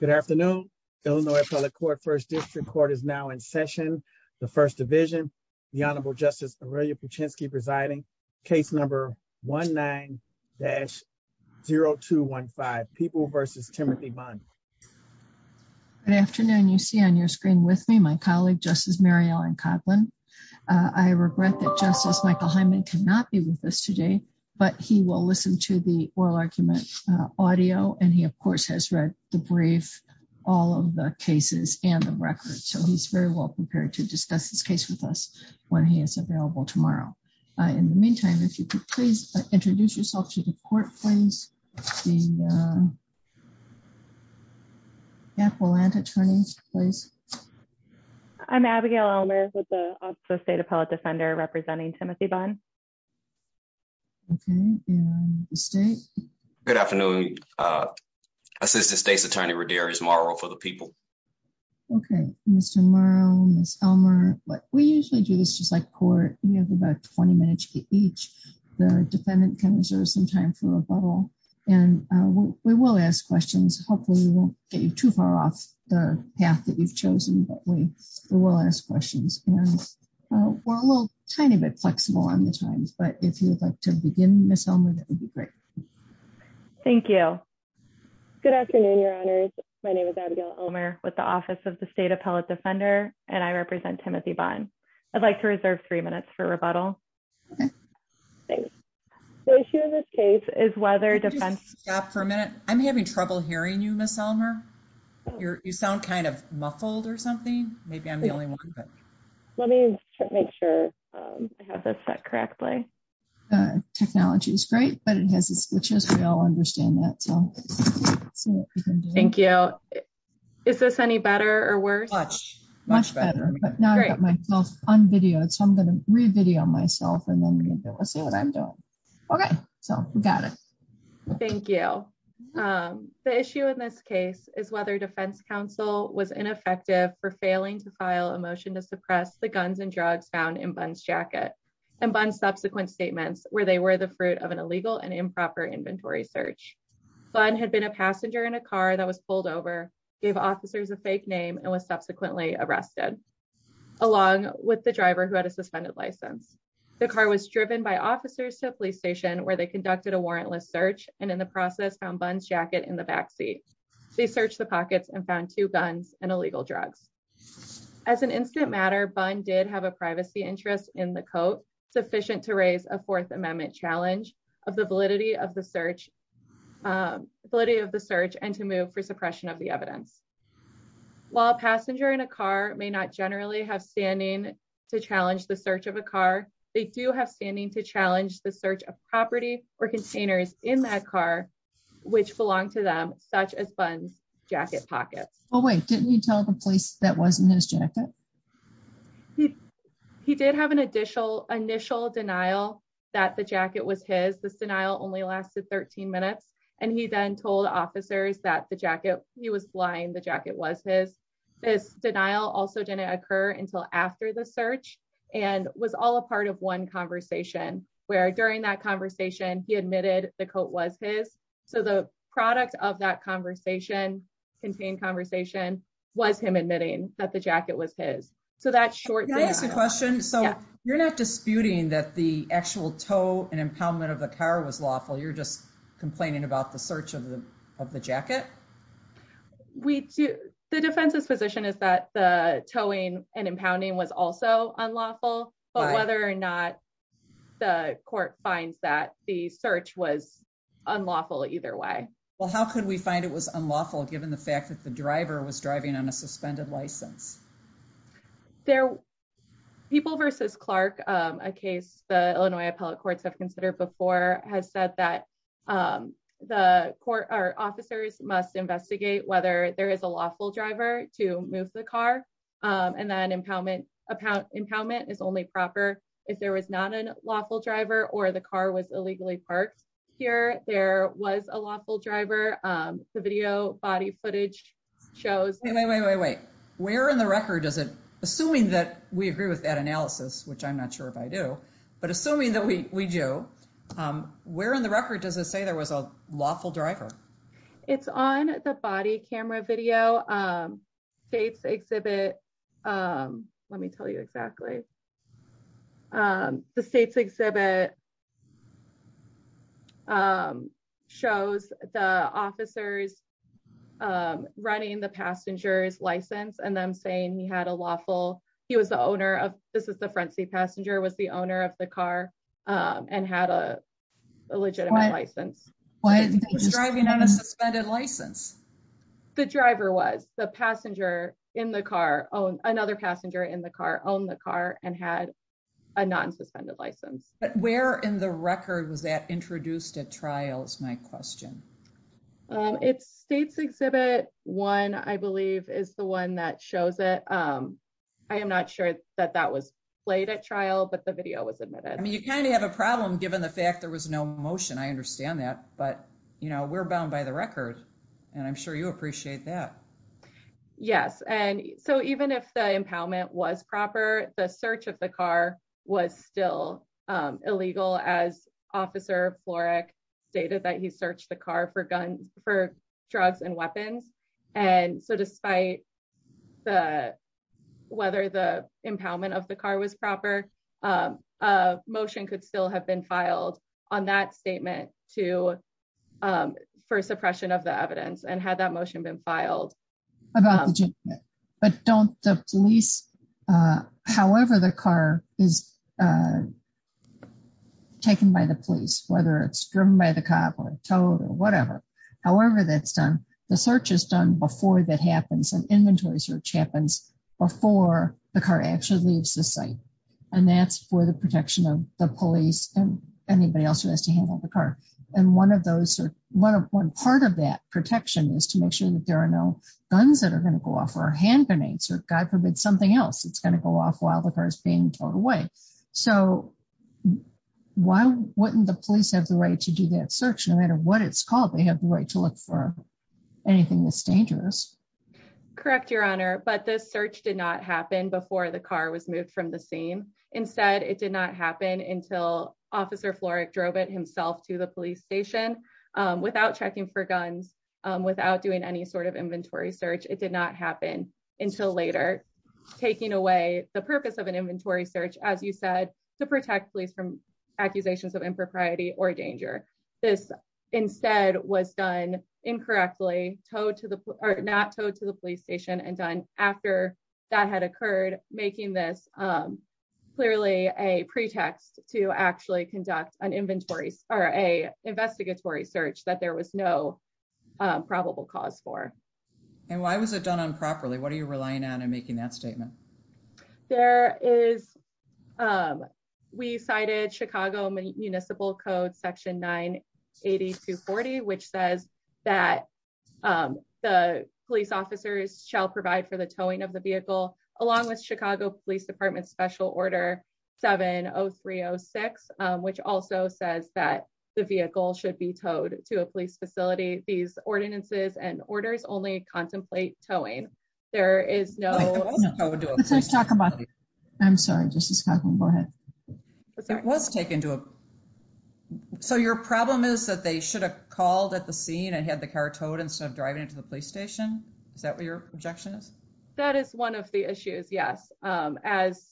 Good afternoon. Illinois Appellate Court First District Court is now in session. The First Division, the Honorable Justice Aurelia Puchinski presiding, case number 19-0215, People v. Timothy Bunn. Good afternoon. You see on your screen with me my colleague, Justice Mary Ellen Coughlin. I regret that Justice Michael Hyman cannot be with us today, but he will listen to the oral audio and he of course has read the brief, all of the cases and the records. So he's very well prepared to discuss this case with us when he is available tomorrow. In the meantime, if you could please introduce yourself to the court, please. The Appellant Attorney, please. I'm Abigail Elmer with the Office of State Appellate Defender representing Timothy Bunn. Okay. And the State? Good afternoon. Assistant State's Attorney Roderick Murrow for the People. Okay. Mr. Murrow, Ms. Elmer, we usually do this just like court. You have about 20 minutes each. The defendant can reserve some time for rebuttal and we will ask questions. Hopefully we won't get you too far off the path that you've chosen, but we will ask questions. And we're a little bit flexible on the times, but if you would like to begin Ms. Elmer, that would be great. Thank you. Good afternoon, Your Honors. My name is Abigail Elmer with the Office of the State Appellate Defender and I represent Timothy Bunn. I'd like to reserve three minutes for rebuttal. Okay. Thanks. The issue in this case is whether defense... Could you stop for a minute? I'm having trouble hearing you, Ms. Elmer. You sound kind of muffled or something. Maybe I'm the only one. Let me make sure I have this set correctly. The technology is great, but it has its glitches. We all understand that. Thank you. Is this any better or worse? Much, much better. But now I've got myself un-videoed, so I'm going to re-video myself and then we'll see what I'm doing. Okay. So we got it. Thank you. The issue in this case is whether defense counsel was ineffective for failing to file a motion to suppress the guns and drugs found in Bunn's jacket and Bunn's subsequent statements where they were the fruit of an illegal and improper inventory search. Bunn had been a passenger in a car that was pulled over, gave officers a fake name, and was subsequently arrested, along with the driver who had a suspended license. The car was driven by officers to a police station where they conducted a warrantless search and in the process found Bunn's jacket in the backseat. They searched the pockets and found two guns and illegal drugs. As an incident matter, Bunn did have a privacy interest in the coat sufficient to raise a Fourth Amendment challenge of the validity of the search and to move for suppression of the evidence. While a passenger in a car may not generally have standing to challenge the search of a car, they do have standing to challenge the search of property or containers in that car which belong to them, such as Bunn's jacket pockets. Oh wait, didn't you tell the police that wasn't his jacket? He did have an initial denial that the jacket was his. This denial only lasted 13 minutes and he then told officers that the jacket, he was lying, the jacket was his. This denial also didn't occur until after the search and was all a part of one conversation where during that conversation he admitted the coat was his. So the product of that conversation, contained conversation, was him admitting that the jacket was his. So that short... Can I ask a question? So you're not disputing that the actual tow and impoundment of the car was lawful, you're just complaining about the search of the jacket? The defense's position is that the towing and impounding was also unlawful, but whether or not the court finds that, the search was unlawful either way. Well how could we find it was unlawful given the fact that the driver was driving on a suspended license? People v. Clark, a case the Illinois appellate courts have considered before, has said that the court or officers must investigate whether there is a lawful driver to move the car and that impoundment is only proper if there was not a lawful driver or the car was illegally parked here. There was a lawful driver. The video body footage shows... Wait, wait, wait, wait, wait. Where in the record does it, assuming that we agree with that analysis, which I'm not sure if I do, but assuming that we do, where in the record does it say there was a lawful driver? It's on the body camera video. State's exhibit, let me tell you exactly, the state's exhibit shows the officers running the passenger's license and them saying he had a lawful, he was the owner of, this is the front seat passenger, was the owner of the car and had a legitimate license. He was driving on a suspended license. The driver was. The passenger in the car, another passenger in the car, owned the car and had a non-suspended license. But where in the record was that introduced at trial is my question. It's state's exhibit one, I believe, is the one that shows it. I am not sure that that was played at trial, but the video was admitted. I mean, you kind of have a problem given the fact there was no motion. I understand that, but we're bound by the record and I'm sure you appreciate that. Yes. And so even if the impoundment was proper, the search of the car was still illegal as Officer Florek stated that he searched the car for drugs and weapons. And so despite whether the impoundment of the car was proper, a motion could still have been filed on that statement for suppression of the evidence and had that motion been filed. But don't the police, however the car is taken by the police, whether it's driven by the cop or towed or whatever, however that's done, the search is done before that happens. An inventory search happens before the car actually leaves the site. And that's for the protection of the police and anybody else who has to handle the protection is to make sure that there are no guns that are going to go off or hand grenades or, God forbid, something else that's going to go off while the car is being towed away. So why wouldn't the police have the right to do that search? No matter what it's called, they have the right to look for anything that's dangerous. Correct, Your Honor. But the search did not happen before the car was moved from the scene. Instead, it did not happen until Officer Florek drove it himself to the police station without checking for guns, without doing any sort of inventory search. It did not happen until later, taking away the purpose of an inventory search, as you said, to protect police from accusations of impropriety or danger. This instead was done incorrectly, not towed to the police station and done after that had occurred, making this clearly a pretext to actually conduct an investigatory search that there was no probable cause for. And why was it done improperly? What are you relying on in making that statement? We cited Chicago Municipal Code Section 98240, which says that the police officers shall provide for the towing of the vehicle, along with Chicago Police Department Special Order 70306, which also says that the vehicle should be towed to a police facility. These ordinances and orders only contemplate towing. There is no... I'm sorry, Justice Kagan, go ahead. It was taken to a... So your problem is that they should have called at the scene and had the car towed instead of driving it to the police station? Is that what your objection is? That is one of the issues, yes. As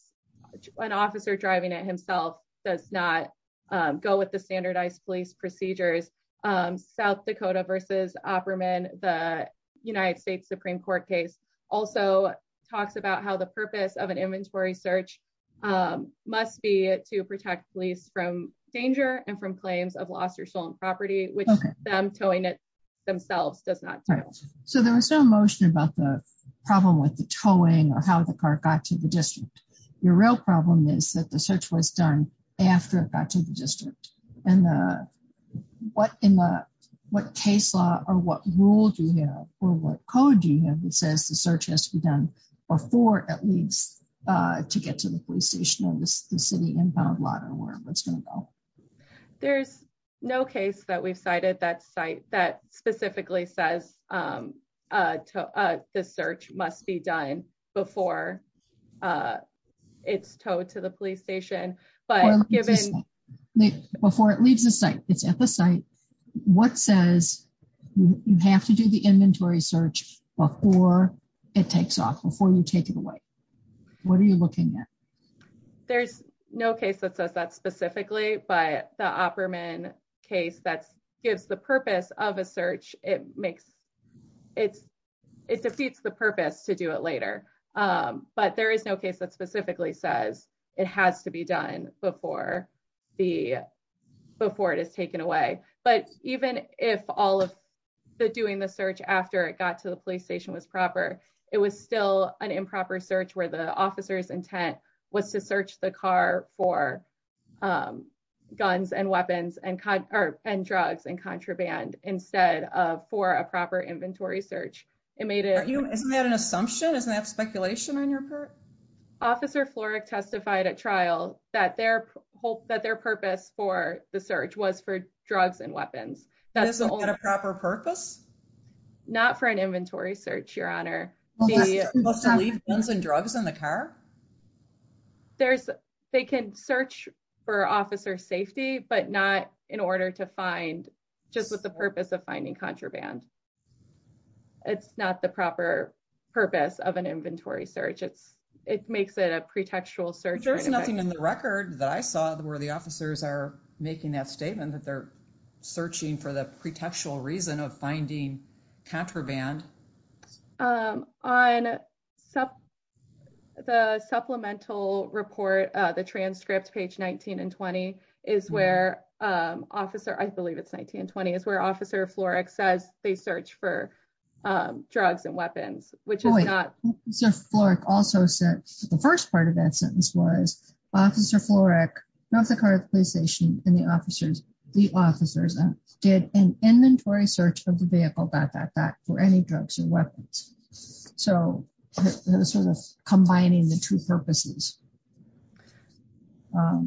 an officer driving it himself does not go with the standardized police procedures, South Dakota v. Opperman, the United States Supreme Court case, also talks about how the purpose of an inventory search must be to protect police from danger and from claims of lost or stolen property, which them towing it themselves does not tell. So there was no motion about the problem with the towing or how the car got to the district. Your real problem is that the search was done after it got to the district. And what case law or what rule do you have or what code do you have that says the search has to be done before at least to get to the police station or the city inbound lot or where it's going to go? There's no case that we've cited that specifically says the search must be done before it's towed to the police station, but given... Before it leaves the site, it's at the site, what says you have to do the inventory search before it takes off, before you take it away? What are you looking at? There's no case that says that specifically, but the Opperman case that gives the purpose of a search, it defeats the purpose to do it later. But there is no case that specifically says it has to be done before it is taken away. But even if all of the doing the search after it got to the police station was proper, it was still an improper search where the officer's intent was to search the car for guns and weapons and drugs and contraband instead of for a proper inventory search. It made it... Isn't that an assumption? Isn't that speculation on your part? Officer Florek testified at trial that their purpose for the search was for drugs and weapons. That's the only... Isn't that a proper purpose? Not for an inventory search, Your Honor. Was to leave guns and drugs in the car? They can search for officer safety, but not in order to find, just with the purpose of finding contraband. It's not the proper purpose of an inventory search. It makes it a pretextual search. There's nothing in the record that I saw where the officers are making that statement that they're searching for the pretextual reason of finding contraband. On the supplemental report, the transcript, page 19 and 20, is where officer... I believe it's 19 and 20, is where officer Florek says they search for drugs and weapons, which is not... Florek also said the first part of that sentence was officer Florek left the car at the police station and the officers did an inventory search of the vehicle back for any drugs and weapons. So, sort of combining the two purposes. I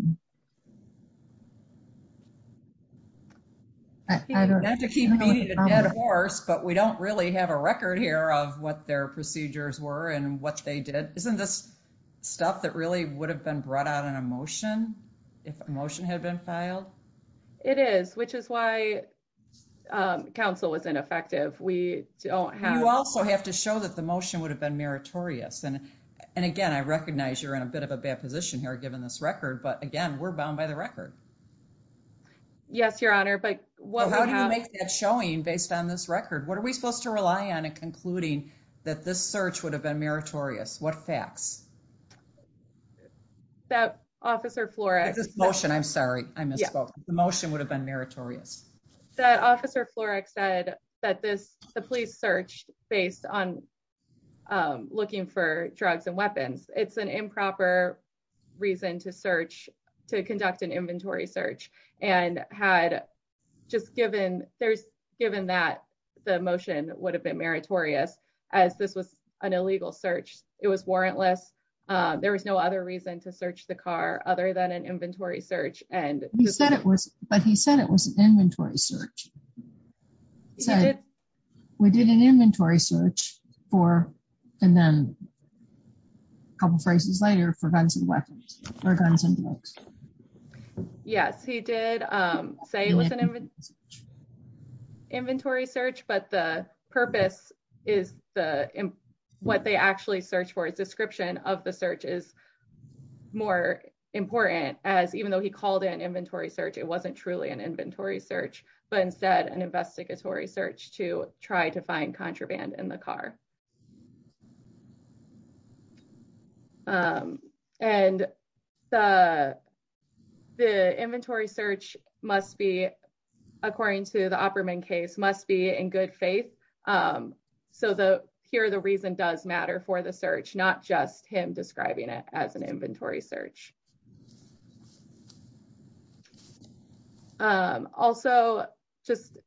don't... We have to keep meeting the dead horse, but we don't really have a record here of what their procedures were and what they did. Isn't this stuff that really would have been brought out in a motion, if a motion had been filed? It is, which is why counsel was ineffective. We don't have... The motion would have been meritorious. And again, I recognize you're in a bit of a bad position here, given this record, but again, we're bound by the record. Yes, your honor, but... How do you make that showing based on this record? What are we supposed to rely on in concluding that this search would have been meritorious? What facts? That officer Florek... This motion, I'm sorry, I misspoke. The motion would have been meritorious. That officer Florek said that the police searched based on looking for drugs and weapons. It's an improper reason to conduct an inventory search. And had just given that the motion would have been meritorious as this was an illegal search, it was warrantless. There was no other reason to search the car other than an inventory search. He said it was, but he said it was an inventory search. We did an inventory search for, and then a couple of phrases later, for guns and weapons. Yes, he did say it was an inventory search, but the purpose is what they actually search for. Description of the search is more important as even though he called it an inventory search, it wasn't truly an inventory search, but instead an investigatory search to try to find contraband in the car. And the inventory search must be, according to the Opperman case, must be in good faith. So here the reason does matter for the search, not just him describing it as an inventory search. Also, just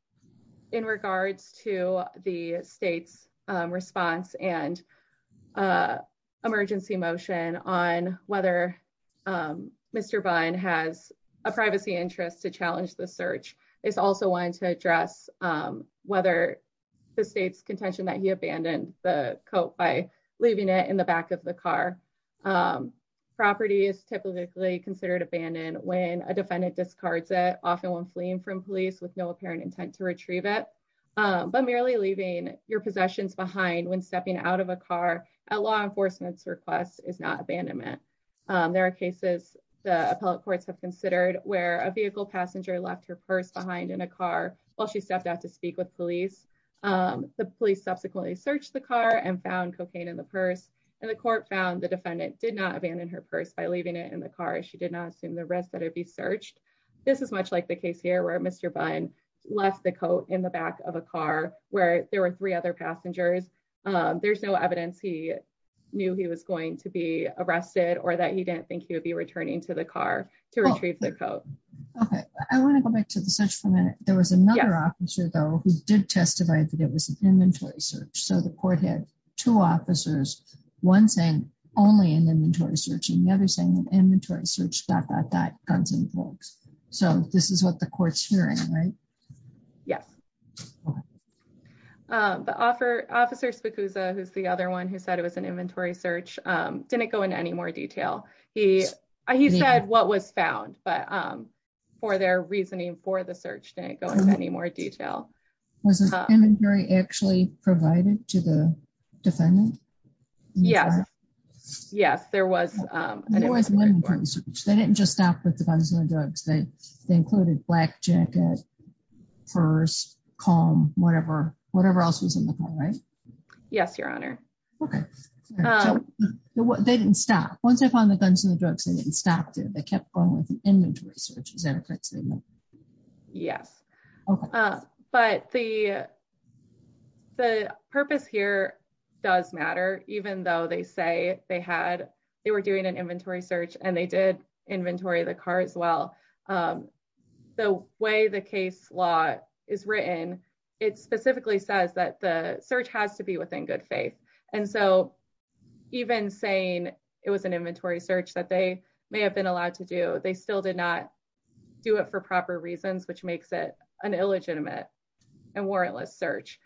in regards to the state's response and emergency motion on whether Mr. Bunn has a privacy interest to challenge the search, is also wanting to address whether the state's contention that he abandoned the coat by leaving it in the back of the car. Property is typically considered abandoned when a defendant discards it, often when fleeing from police with no apparent intent to retrieve it. But merely leaving your possessions behind when stepping out of a car at law enforcement's request is not abandonment. There are cases the appellate courts have considered where a vehicle passenger left her purse behind in a car while she stepped out to speak with police. The police subsequently searched the car and found cocaine in the purse, and the court found the defendant did not abandon her purse by leaving it in the car. She did not assume the risk that it'd be searched. This is much like the case here where Mr. Bunn left the coat in the back of a car where there were three other passengers. There's no evidence he knew he was going to be arrested or that he didn't think he would be returning to the car to retrieve the coat. Okay, I want to go back to the search for a minute. There was another officer though who did testify that it was an inventory search. So the court had two officers, one saying only an inventory search and the other saying inventory search dot dot dot guns and bolts. So this is what the court's hearing, right? Yes. The officer Spikuzza, who's the other one who said it was an inventory search, didn't go into any more detail. He said what was found, but for their reasoning for the search, didn't go into any more detail. Was the inventory actually provided to the defendant? Yes, there was an inventory search. They didn't just stop with the guns and drugs. They included black jacket, purse, comb, whatever else was in the car, right? Yes, your honor. Okay, so they didn't stop. Once they found the guns and the drugs, they didn't stop. They kept going with an inventory search. Is that correct? Yes, but the purpose here does matter, even though they say they were doing an inventory search and they did inventory the car as well. The way the case law is written, it specifically says that the search has to be within good faith. And so even saying it was an inventory search that they may have been allowed to do, they still did not do it for proper reasons, which makes it an illegitimate and warrantless search.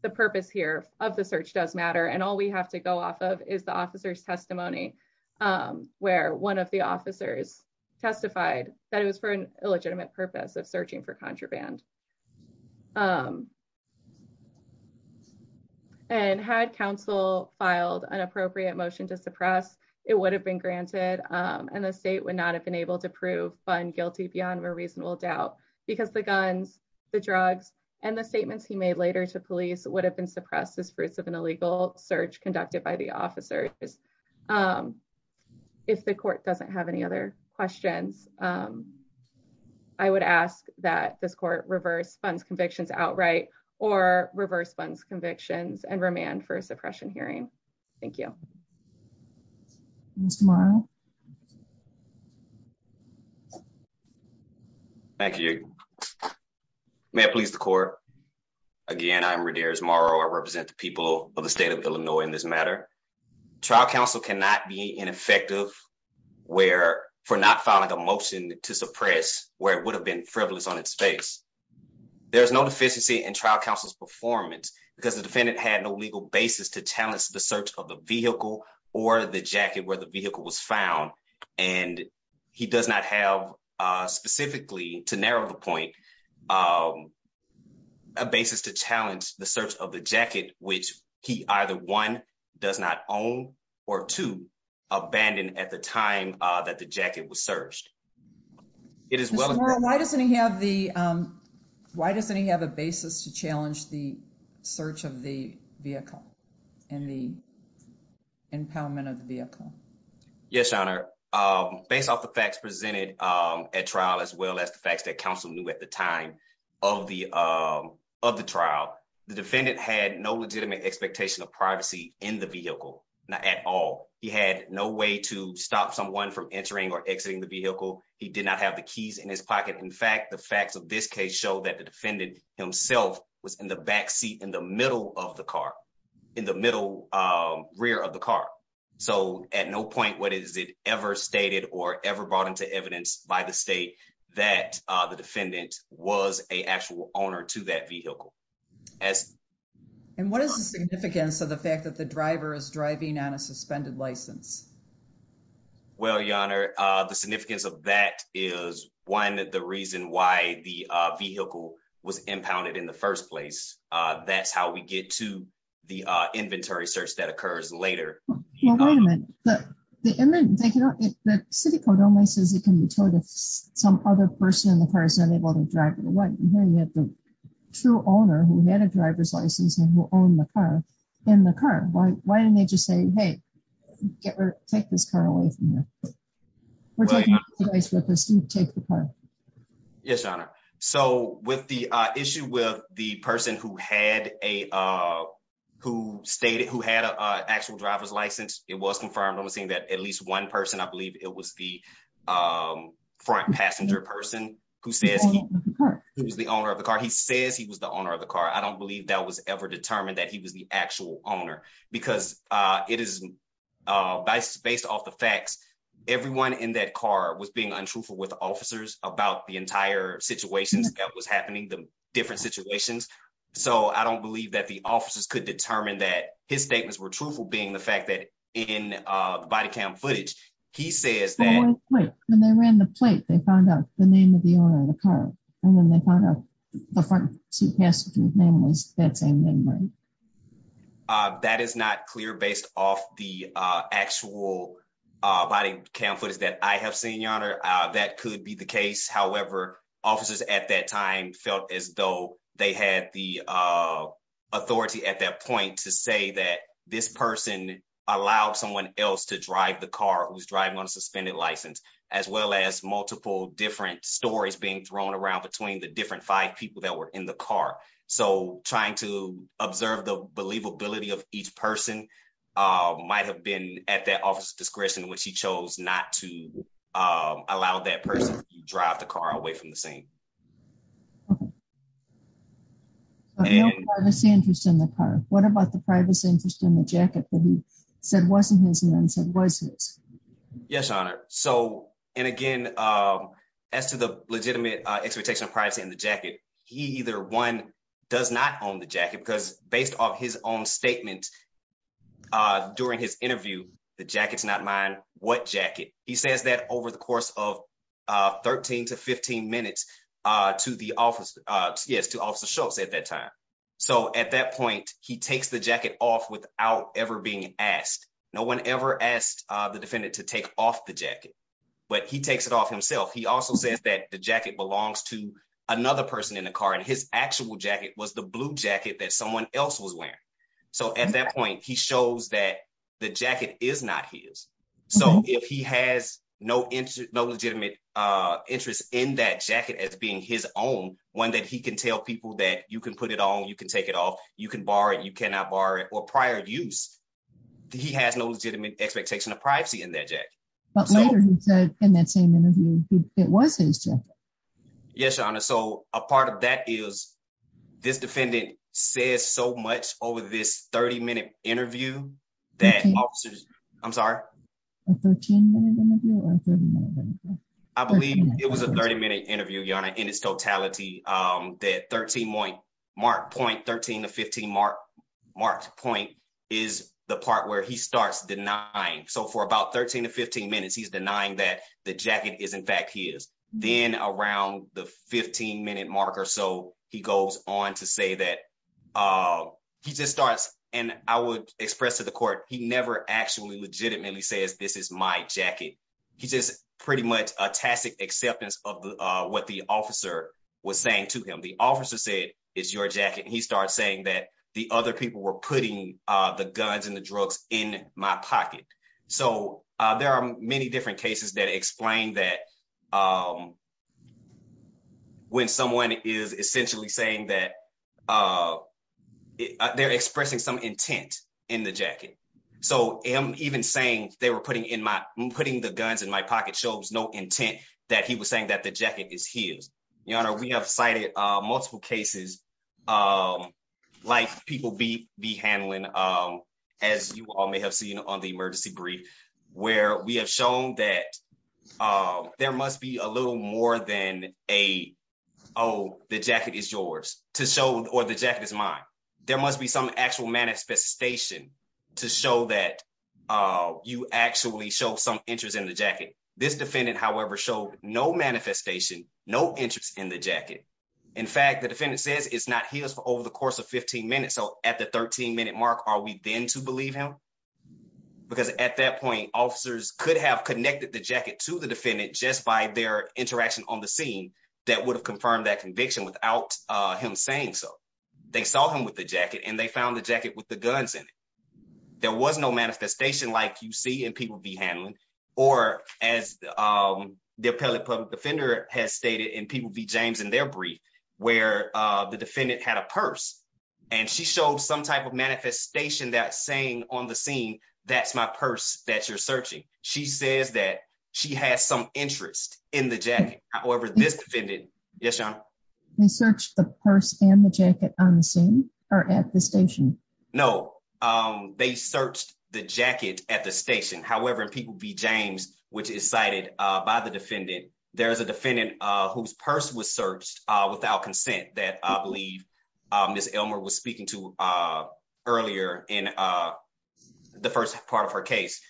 The purpose here of the search does matter. And all we have to go off of is the officer's testimony, where one of the officers testified that it was for an illegitimate purpose of searching for contraband. And had counsel filed an appropriate motion to suppress, it would have been granted. And the state would not have been able to prove fund guilty beyond a reasonable doubt, because the guns, the drugs, and the statements he made later to police would have been suppressed as fruits of an illegal search conducted by the officers. If the court doesn't have any other questions, I would ask that this court reverse funds convictions outright, or reverse funds convictions and remand for a suppression hearing. Thank you. Mr. Morrow. Thank you. May it please the court. Again, I'm Roderick Morrow. I represent the people of the state of Illinois in this matter. Trial counsel cannot be ineffective for not filing a defense. There's no deficiency in trial counsel's performance, because the defendant had no legal basis to challenge the search of the vehicle or the jacket where the vehicle was found. And he does not have, specifically, to narrow the point, a basis to challenge the search of the jacket, which he either one, does not own, or two, abandoned at the time that the jacket was searched. Mr. Morrow, why doesn't he have a basis to challenge the search of the vehicle and the impoundment of the vehicle? Yes, Your Honor. Based off the facts presented at trial, as well as the facts that counsel knew at the time of the trial, the defendant had no legitimate expectation of privacy in the vehicle, not at all. He had no way to stop someone from entering or exiting the vehicle. He did not have the keys in his pocket. In fact, the facts of this case show that the defendant himself was in the back seat in the middle of the car, in the middle rear of the car. So at no point was it ever stated or ever brought into evidence by the state that the defendant was an actual owner to that vehicle. And what is the significance of the fact that the driver is driving on a suspended license? Well, Your Honor, the significance of that is, one, the reason why the vehicle was impounded in the first place. That's how we get to the inventory search that occurs later. Well, wait a minute. The city code only says it can be told if some other person in the car is unable to drive it away. I'm hearing that the true owner who had a license was the actual owner of the car. Why didn't they just say, hey, take this car away from here? We're taking this with us. You take the car. Yes, Your Honor. So with the issue with the person who had a actual driver's license, it was confirmed. I'm seeing that at least one person, I believe it was the front passenger person, who says he was the owner of the car. He says he was the owner of the car. I don't believe that was ever determined that he was the actual owner, because it is based off the facts. Everyone in that car was being untruthful with officers about the entire situation that was happening, the different situations. So I don't believe that the officers could determine that his statements were truthful, being the fact that in the body cam footage, he says that... When they ran the plate, they found out the name of the owner of the car, and then they found out the front passenger's name was that same name, right? That is not clear based off the actual body cam footage that I have seen, Your Honor. That could be the case. However, officers at that time felt as though they had the authority at that point to say that this person allowed someone else to drive the car who was driving on a suspended license, as well as multiple different stories being thrown around between the different five people that were in the car. So trying to observe the believability of each person might have been at that officer's discretion when she chose not to allow that person to drive the car away from the scene. But no privacy interest in the car. What about the privacy interest in the jacket that he said wasn't his and then said was his? Yes, Your Honor. So, and again, as to the legitimate expectation of privacy in the jacket, he either, one, does not own the jacket, because based off his own statement during his interview, the jacket's not mine, what jacket? He says that over the course of 13 to 15 minutes to the officer, yes, to Officer Schultz at that time. So at that point, he takes the jacket off without ever being asked. No one ever asked the defendant to take off the jacket, but he takes it off himself. He also says that the jacket belongs to another person in the car, and his actual jacket was the blue jacket that someone else was wearing. So at that point, he shows that the jacket is not his. So if he has no legitimate interest in that jacket as being his own, one, that he can tell people that you can put it on, you can take it off, you can borrow it, you cannot borrow it, or prior use, he has no legitimate expectation of privacy in that jacket. But later he said in that same interview, it was his jacket. Yes, Your Honor. So a part of that is this defendant says so much over this 30-minute interview that officers, I'm sorry? A 13-minute interview, Your Honor, in its totality, that 13-point, marked point, 13 to 15 marked point is the part where he starts denying. So for about 13 to 15 minutes, he's denying that the jacket is in fact his. Then around the 15-minute mark or so, he goes on to say that he just starts, and I would express to the court, he never actually legitimately says, this is my jacket. He's just pretty much a tacit acceptance of what the officer was saying to him. The officer said, it's your jacket, and he starts saying that the other people were putting the guns and the drugs in my pocket. So there are many different cases that explain that when someone is essentially saying that they're expressing some intent in the jacket. So him even saying they were putting in my, putting the guns in my pocket shows no intent that he was saying that the jacket is his. Your Honor, we have cited multiple cases like people be handling, as you all may have seen on the emergency brief, where we have shown that there must be a little more than a, oh, the jacket is yours to show, or the jacket is mine. There must be some actual manifestation to show that you actually show some interest in the jacket. This defendant, however, showed no manifestation, no interest in the jacket. In fact, the defendant says it's not his for over the course of 15 minutes. So at the 13-minute mark, are we then to believe him? Because at that point, officers could have connected the jacket to the defendant just by their interaction on the scene that would have confirmed that conviction without him saying so. They saw him with the jacket, and they found the jacket with the guns in it. There was no manifestation like you see in people be handling, or as the appellate public defender has stated in people be James in their brief, where the defendant had a purse, and she showed some type of manifestation that saying on the scene, that's my purse that you're searching. She says that she has some interest in the jacket. However, this defendant, yes, your honor? They searched the purse and the jacket on the scene or at the station? No, they searched the jacket at the station. However, in people be James, which is cited by the defendant, there is a defendant whose purse was searched without consent that I believe Ms. Elmer was speaking to earlier in the first part of her case.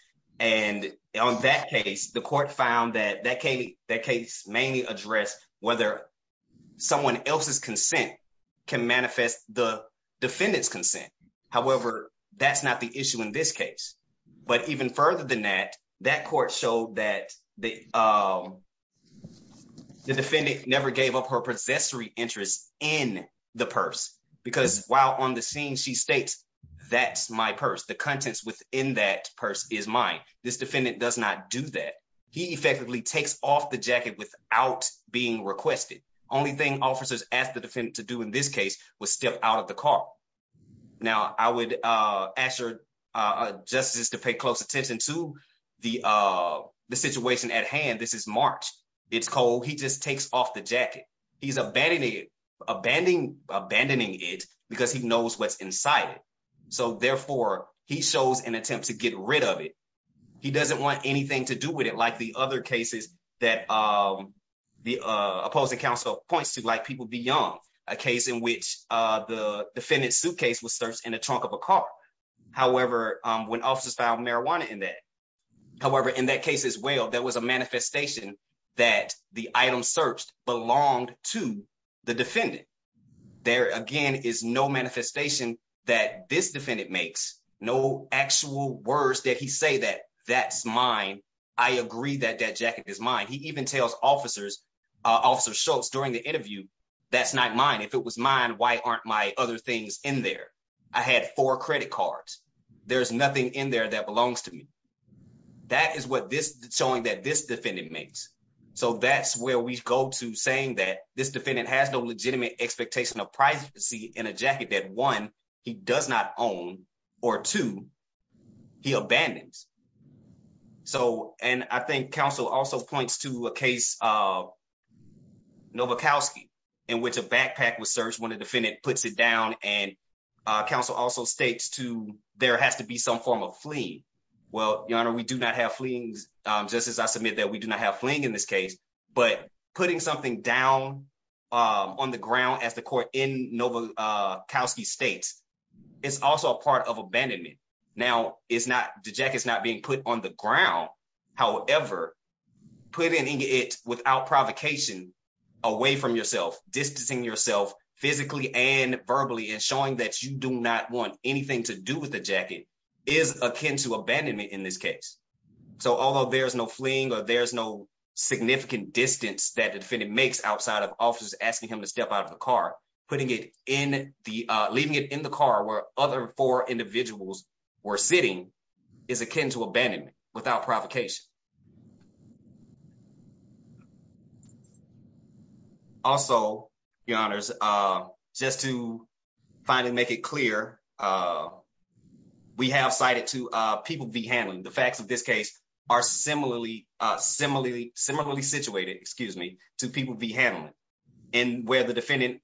And on that case, the court found that case mainly addressed whether someone else's consent can manifest the defendant's consent. However, that's not the issue in this case. But even further than that, that court showed that the defendant never gave up her possessory interest in the purse, because while on the scene, she states, that's my purse, the contents within that purse is mine. This defendant does not do that. He effectively takes off the jacket without being requested. Only thing officers asked the defendant to do in this case was step out of the car. Now, I would ask your justice to pay close attention to the situation at hand. This is March, it's cold, he just takes off the jacket. He's abandoning it, because he knows what's inside it. So therefore, he shows an attempt to get rid of it. He doesn't want anything to do with it like the other cases that the opposing counsel points to, like People Be Young, a case in which the defendant's suitcase was searched in the trunk of a car. However, when officers found marijuana in that, however, in that case as well, there was a manifestation that the item searched belonged to the defendant. There again is no no actual words that he say that that's mine. I agree that that jacket is mine. He even tells officers, Officer Schultz during the interview, that's not mine. If it was mine, why aren't my other things in there? I had four credit cards. There's nothing in there that belongs to me. That is what this showing that this defendant makes. So that's where we go to saying that this defendant has no legitimate expectation of privacy in a jacket that one, he does not own, or two, he abandons. So and I think counsel also points to a case of Novikovsky, in which a backpack was searched when a defendant puts it down. And counsel also states to there has to be some form of fleeing. Well, Your Honor, we do not have fleas, just as I submit that we do not have in this case. But putting something down on the ground as the court in Novikovsky states, it's also a part of abandonment. Now, it's not the jacket is not being put on the ground. However, putting it without provocation, away from yourself, distancing yourself physically and verbally and showing that you do not want anything to do with the jacket is akin to abandonment in this case. So although there's no fleeing, or there's no significant distance that the defendant makes outside of officers asking him to step out of the car, putting it in the leaving it in the car where other four individuals were sitting is akin to abandonment without provocation. Also, Your Honors, just to finally make it clear, we have cited to people be handling the facts of this case are similarly, similarly, similarly situated, excuse me, to people be handling, and where the defendant,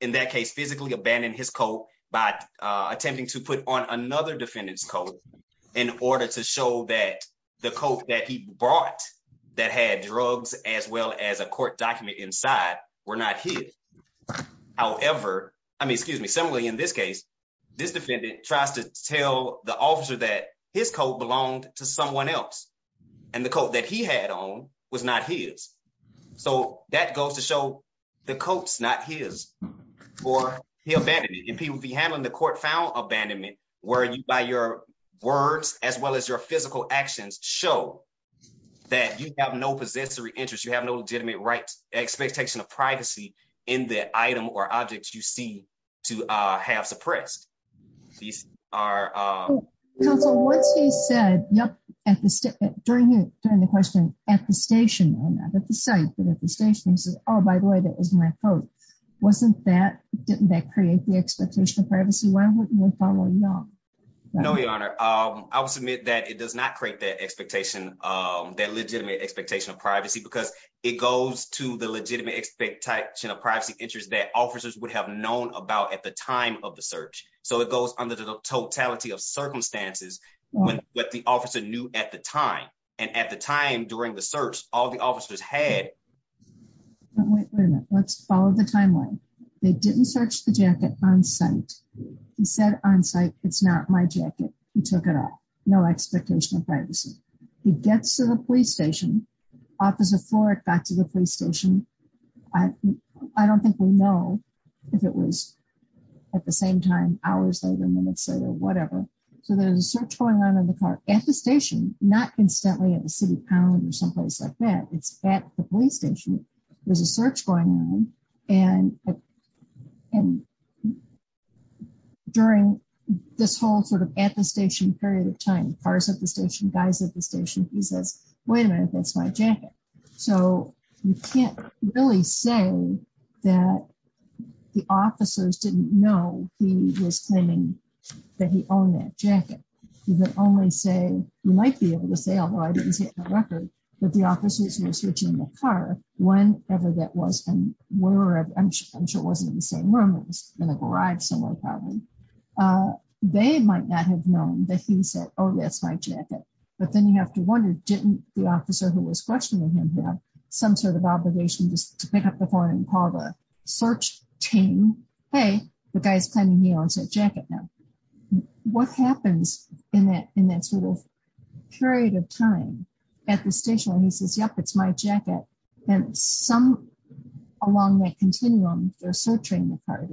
in that case, physically abandoned his coat by attempting to put on the coat that he brought that had drugs, as well as a court document inside were not hit. However, I mean, excuse me, similarly, in this case, this defendant tries to tell the officer that his coat belonged to someone else. And the coat that he had on was not his. So that goes to show the coats not his, or he abandoned it and people be handling the court found abandonment, where you buy your words, as well as your physical actions show that you have no possessory interest, you have no legitimate right expectation of privacy in the item or objects you see to have suppressed. These are what's he said? Yep. And during the during the question at the station, at the site, but at the station, oh, by the way, that was my coat. Wasn't that didn't that create the expectation of privacy? Why wouldn't we follow you? No, Your Honor, I will submit that it does not create that expectation, that legitimate expectation of privacy, because it goes to the legitimate expectation of privacy interest that officers would have known about at the time of the search. So it goes under the totality of circumstances, when what the officer knew at the time, and at the time during the search, all the officers had let's follow the jacket on site. He said on site, it's not my jacket, he took it off, no expectation of privacy, he gets to the police station, officer for it back to the police station. I don't think we know if it was at the same time, hours later, minutes later, whatever. So there's a search going on in the car at the station, not instantly at the city pound or someplace like that. It's at the police station, there's a search going on. And during this whole sort of at the station period of time, cars at the station, guys at the station, he says, wait a minute, that's my jacket. So you can't really say that the officers didn't know he was claiming that he owned that jacket, you can only say, you might be able to say, although I didn't see it in the record, that the officers were searching the car, whenever that was, I'm sure it wasn't in the same room, it was in a garage somewhere, probably. They might not have known that he said, oh, that's my jacket. But then you have to wonder, didn't the officer who was questioning him have some sort of obligation just to pick up the phone and call the search team? Hey, the guy's claiming he owns that and he says, yep, it's my jacket. And some, along that continuum, they're searching the car,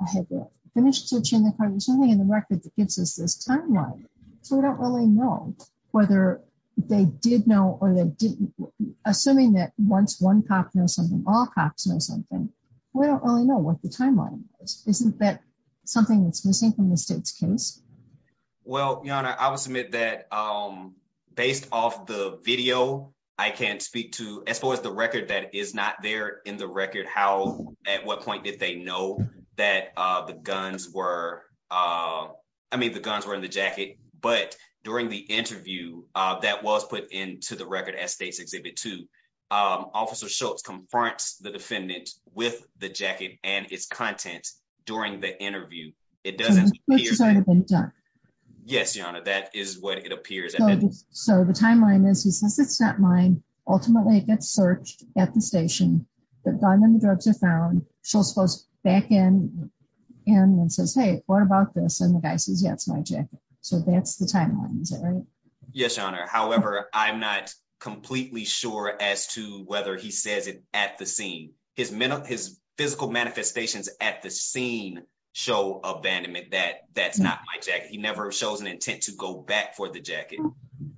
I had to finish searching the car, there's nothing in the record that gives us this timeline. So we don't really know whether they did know or they didn't. Assuming that once one cop knows something, all cops know something, we don't really know what the timeline is. Isn't that something that's missing from the state's case? Well, Your Honor, I will submit that based off the video, I can't speak to, as far as the record that is not there in the record, how, at what point did they know that the guns were, I mean, the guns were in the jacket, but during the interview that was put into the record at State's Exhibit 2, Officer Schultz confronts the defendant with the jacket and its content during the interview. So the timeline is, he says it's not mine, ultimately it gets searched at the station, the gun and the drugs are found, Schultz goes back in and says, hey, what about this? And the guy says, yeah, it's my jacket. So that's the timeline, is that right? Yes, Your Honor. However, I'm not completely sure as to whether he says it at the scene. His physical manifestations at the scene show abandonment that that's not my jacket. He never shows an intent to go back for the jacket.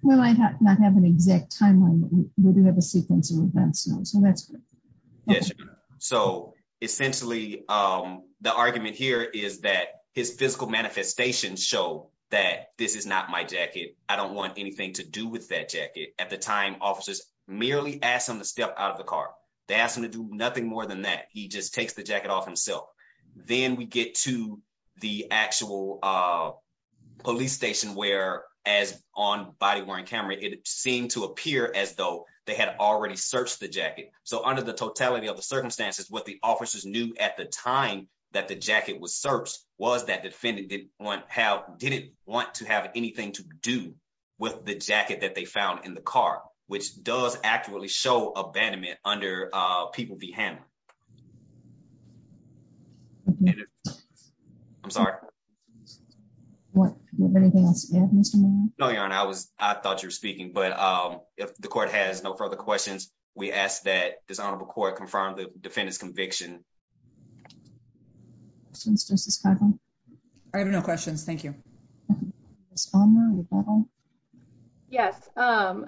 Well, I have not have an exact timeline, but we do have a sequence of events, so that's correct. Yes, Your Honor. So essentially, the argument here is that his physical manifestations show that this is not my jacket. I don't want anything to do with that jacket. At the time, officers merely asked him to step out of the car. They asked him to do nothing more than that. He just takes the jacket off himself. Then we get to the actual police station where, as on body wearing camera, it seemed to appear as though they had already searched the jacket. So under the totality of the circumstances, what the officers knew at the time that the jacket was searched was that defendant didn't want to have anything to do with the jacket that they found in the car, which does actually show abandonment under People v. Hammer. I'm sorry. What? No, Your Honor. I thought you were speaking, but if the court has no further questions, we ask that this honorable court confirm the defendant's conviction. I have no questions. Thank you. Yes. I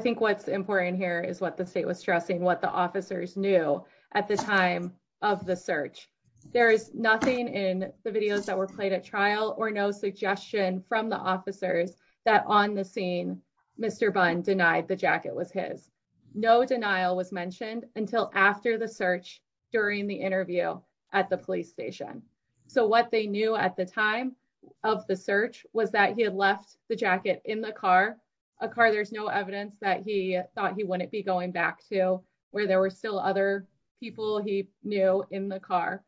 think what's important here is what the state was stressing, what the officers knew at the time of the search. There is nothing in the videos that were played at trial or no suggestion from the officers that on the scene, Mr. Bunn denied the jacket was his. No denial was mentioned until after the search during the interview at the police station. So they knew at the time of the search was that he had left the jacket in the car, a car there's no evidence that he thought he wouldn't be going back to where there were still other people he knew in the car.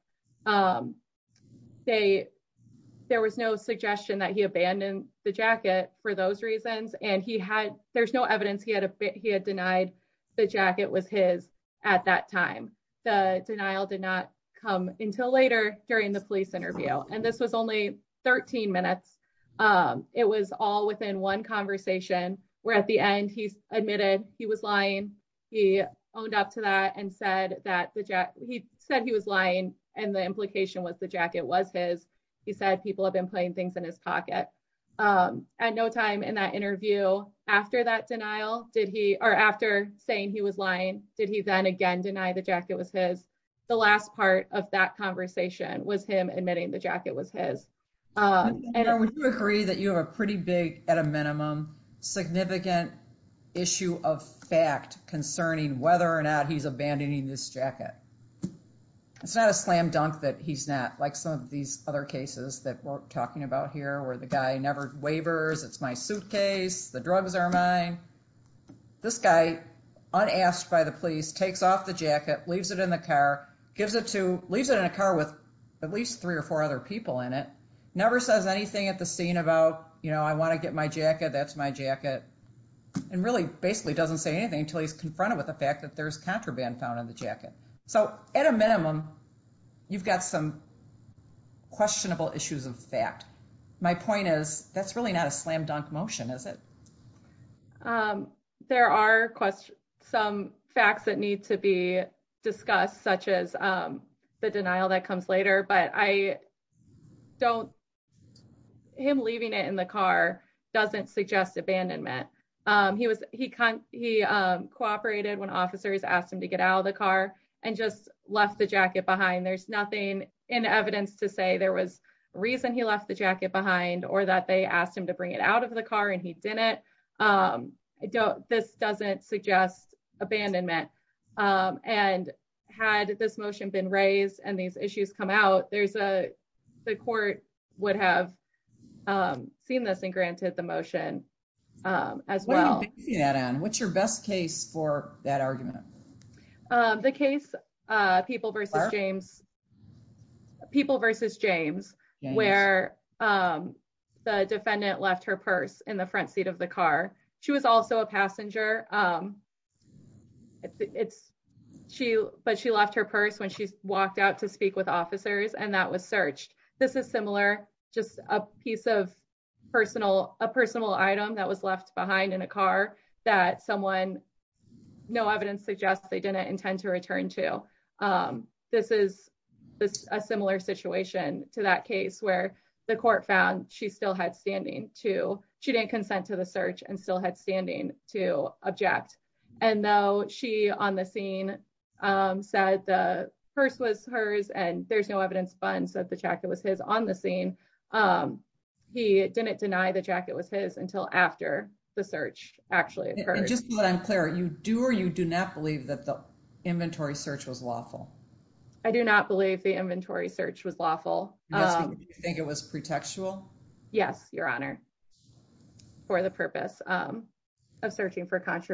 There was no suggestion that he abandoned the jacket for those reasons. And he had, there's no evidence he had, he had denied the jacket was his at that time. The denial did not come until later during the police interview. And this was only 13 minutes. It was all within one conversation where at the end, he admitted he was lying. He owned up to that and said that he said he was lying. And the implication was the jacket was his, he said people have been putting things in his pocket. At no time in that interview, after that denial, did he, after saying he was lying, did he then again deny the jacket was his? The last part of that conversation was him admitting the jacket was his. Would you agree that you have a pretty big at a minimum, significant issue of fact concerning whether or not he's abandoning this jacket? It's not a slam dunk that he's not like some of these other cases that we're talking about here where the guy never waivers, it's my guy, unasked by the police, takes off the jacket, leaves it in the car, gives it to, leaves it in a car with at least three or four other people in it. Never says anything at the scene about, you know, I want to get my jacket, that's my jacket. And really basically doesn't say anything until he's confronted with the fact that there's contraband found in the jacket. So at a minimum, you've got some questionable issues of fact. My point is that's really not a slam dunk motion, is it? There are some facts that need to be discussed, such as the denial that comes later, but I don't, him leaving it in the car doesn't suggest abandonment. He cooperated when officers asked him to get out of the car and just left the jacket behind. There's nothing in evidence to say there was reason he left the jacket behind or that they asked him to bring it out of the car and he didn't. I don't, this doesn't suggest abandonment. And had this motion been raised and these issues come out, there's a, the court would have seen this and granted the motion as well. What's your best case for that argument? The case people versus James people versus James where the defendant left her purse in the front seat of the car. She was also a passenger. It's she, but she left her purse when she walked out to speak with officers. And that was searched. This is similar, just a piece of personal, a personal item that was left behind in a car that someone, no evidence suggests they didn't intend to return to. This is a similar situation to that case where the court found she still had standing to, she didn't consent to the search and still had standing to object. And though she on the scene said the purse was hers and there's no evidence funds that the jacket was his on the scene. He didn't deny the jacket was until after the search actually occurred. And just so that I'm clear, you do or you do not believe that the inventory search was lawful? I do not believe the inventory search was lawful. Yes, but did you think it was pretextual? Yes, Your Honor, for the purpose of searching for did not have to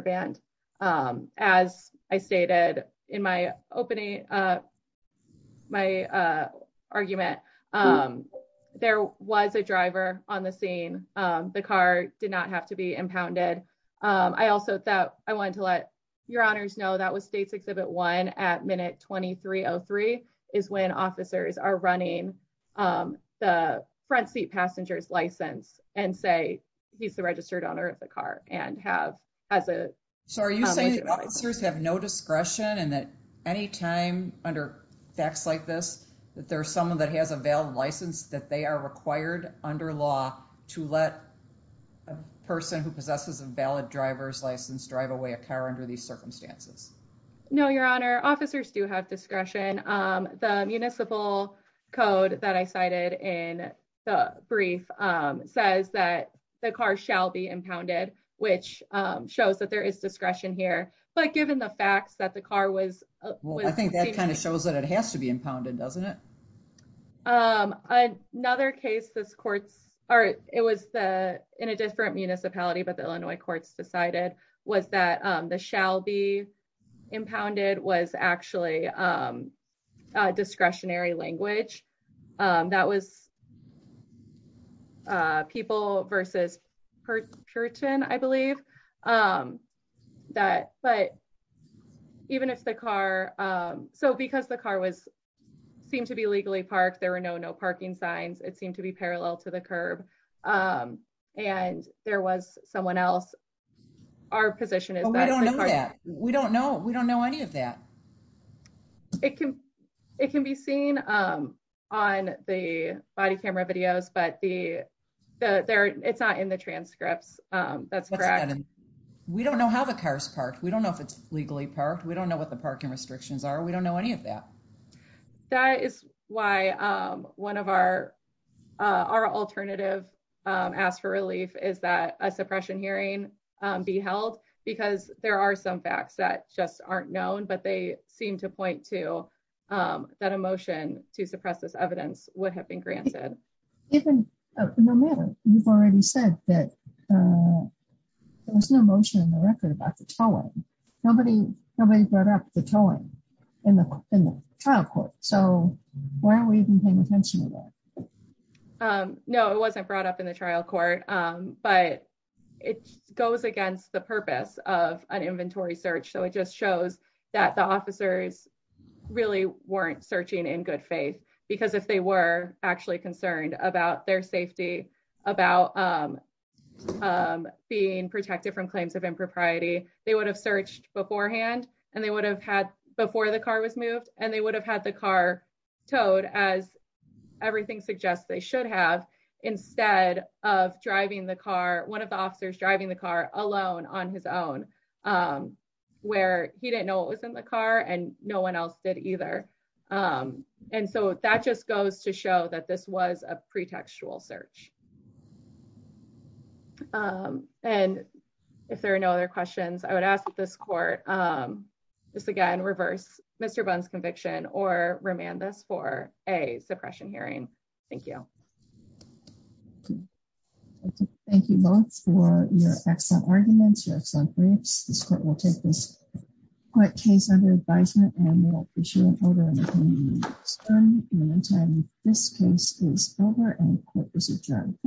be impounded. I also thought I wanted to let your honors know that was States Exhibit 1 at minute 2303 is when officers are running the front seat passengers license and say he's the registered owner of the car and have as a. So are you saying officers have no discretion and that any time under facts like this, that there's someone that has a valid license that they are required under law to let a person who possesses a valid driver's license drive away a car under these circumstances? No, Your Honor, officers do have discretion. The municipal code that I cited in the brief says that the car shall be impounded, which shows that there is discretion here. But given the facts that the car was, well, I think that kind of shows that it has to be impounded, doesn't it? Another case this court's or it was the in a different municipality, but the Illinois courts decided was that the shall be impounded was actually discretionary language. That was people versus Puritan, I believe. That but even if the car, so because the car was seemed to be legally parked, there were no parking signs, it seemed to be parallel to the curb. And there was someone else. Our position is that we don't know. We don't know. We don't know any of that. It can be seen on the body camera videos, but it's not in the transcripts. That's correct. We don't know how the cars parked. We don't know if it's legally parked. We don't know what the parking restrictions are. We don't know any of that. That is why one of our alternative ask for relief is that a suppression hearing be held because there are some facts that just aren't known, but they seem to point to that a motion to suppress this evidence would have been granted. No matter, you've already said that there was no motion in the record about the towing. Nobody brought up the towing in the trial court. So why are we even paying attention to that? No, it wasn't brought up in the trial court, but it goes against the purpose of an that the officers really weren't searching in good faith because if they were actually concerned about their safety, about being protected from claims of impropriety, they would have searched beforehand and they would have had before the car was moved and they would have had the car towed as everything suggests they should have instead of driving the car. One of the officers driving the car alone on his own where he didn't know what was in the car and no one else did either. And so that just goes to show that this was a pretextual search. And if there are no other questions I would ask this court, just again, reverse Mr. Bunn's conviction or remand this for a suppression hearing. Thank you. Thank you both for your excellent arguments, your excellent briefs. This court will take this quick case under advisement and we'll issue an order in the coming weeks. And in the meantime, this case is over and the court is adjourned.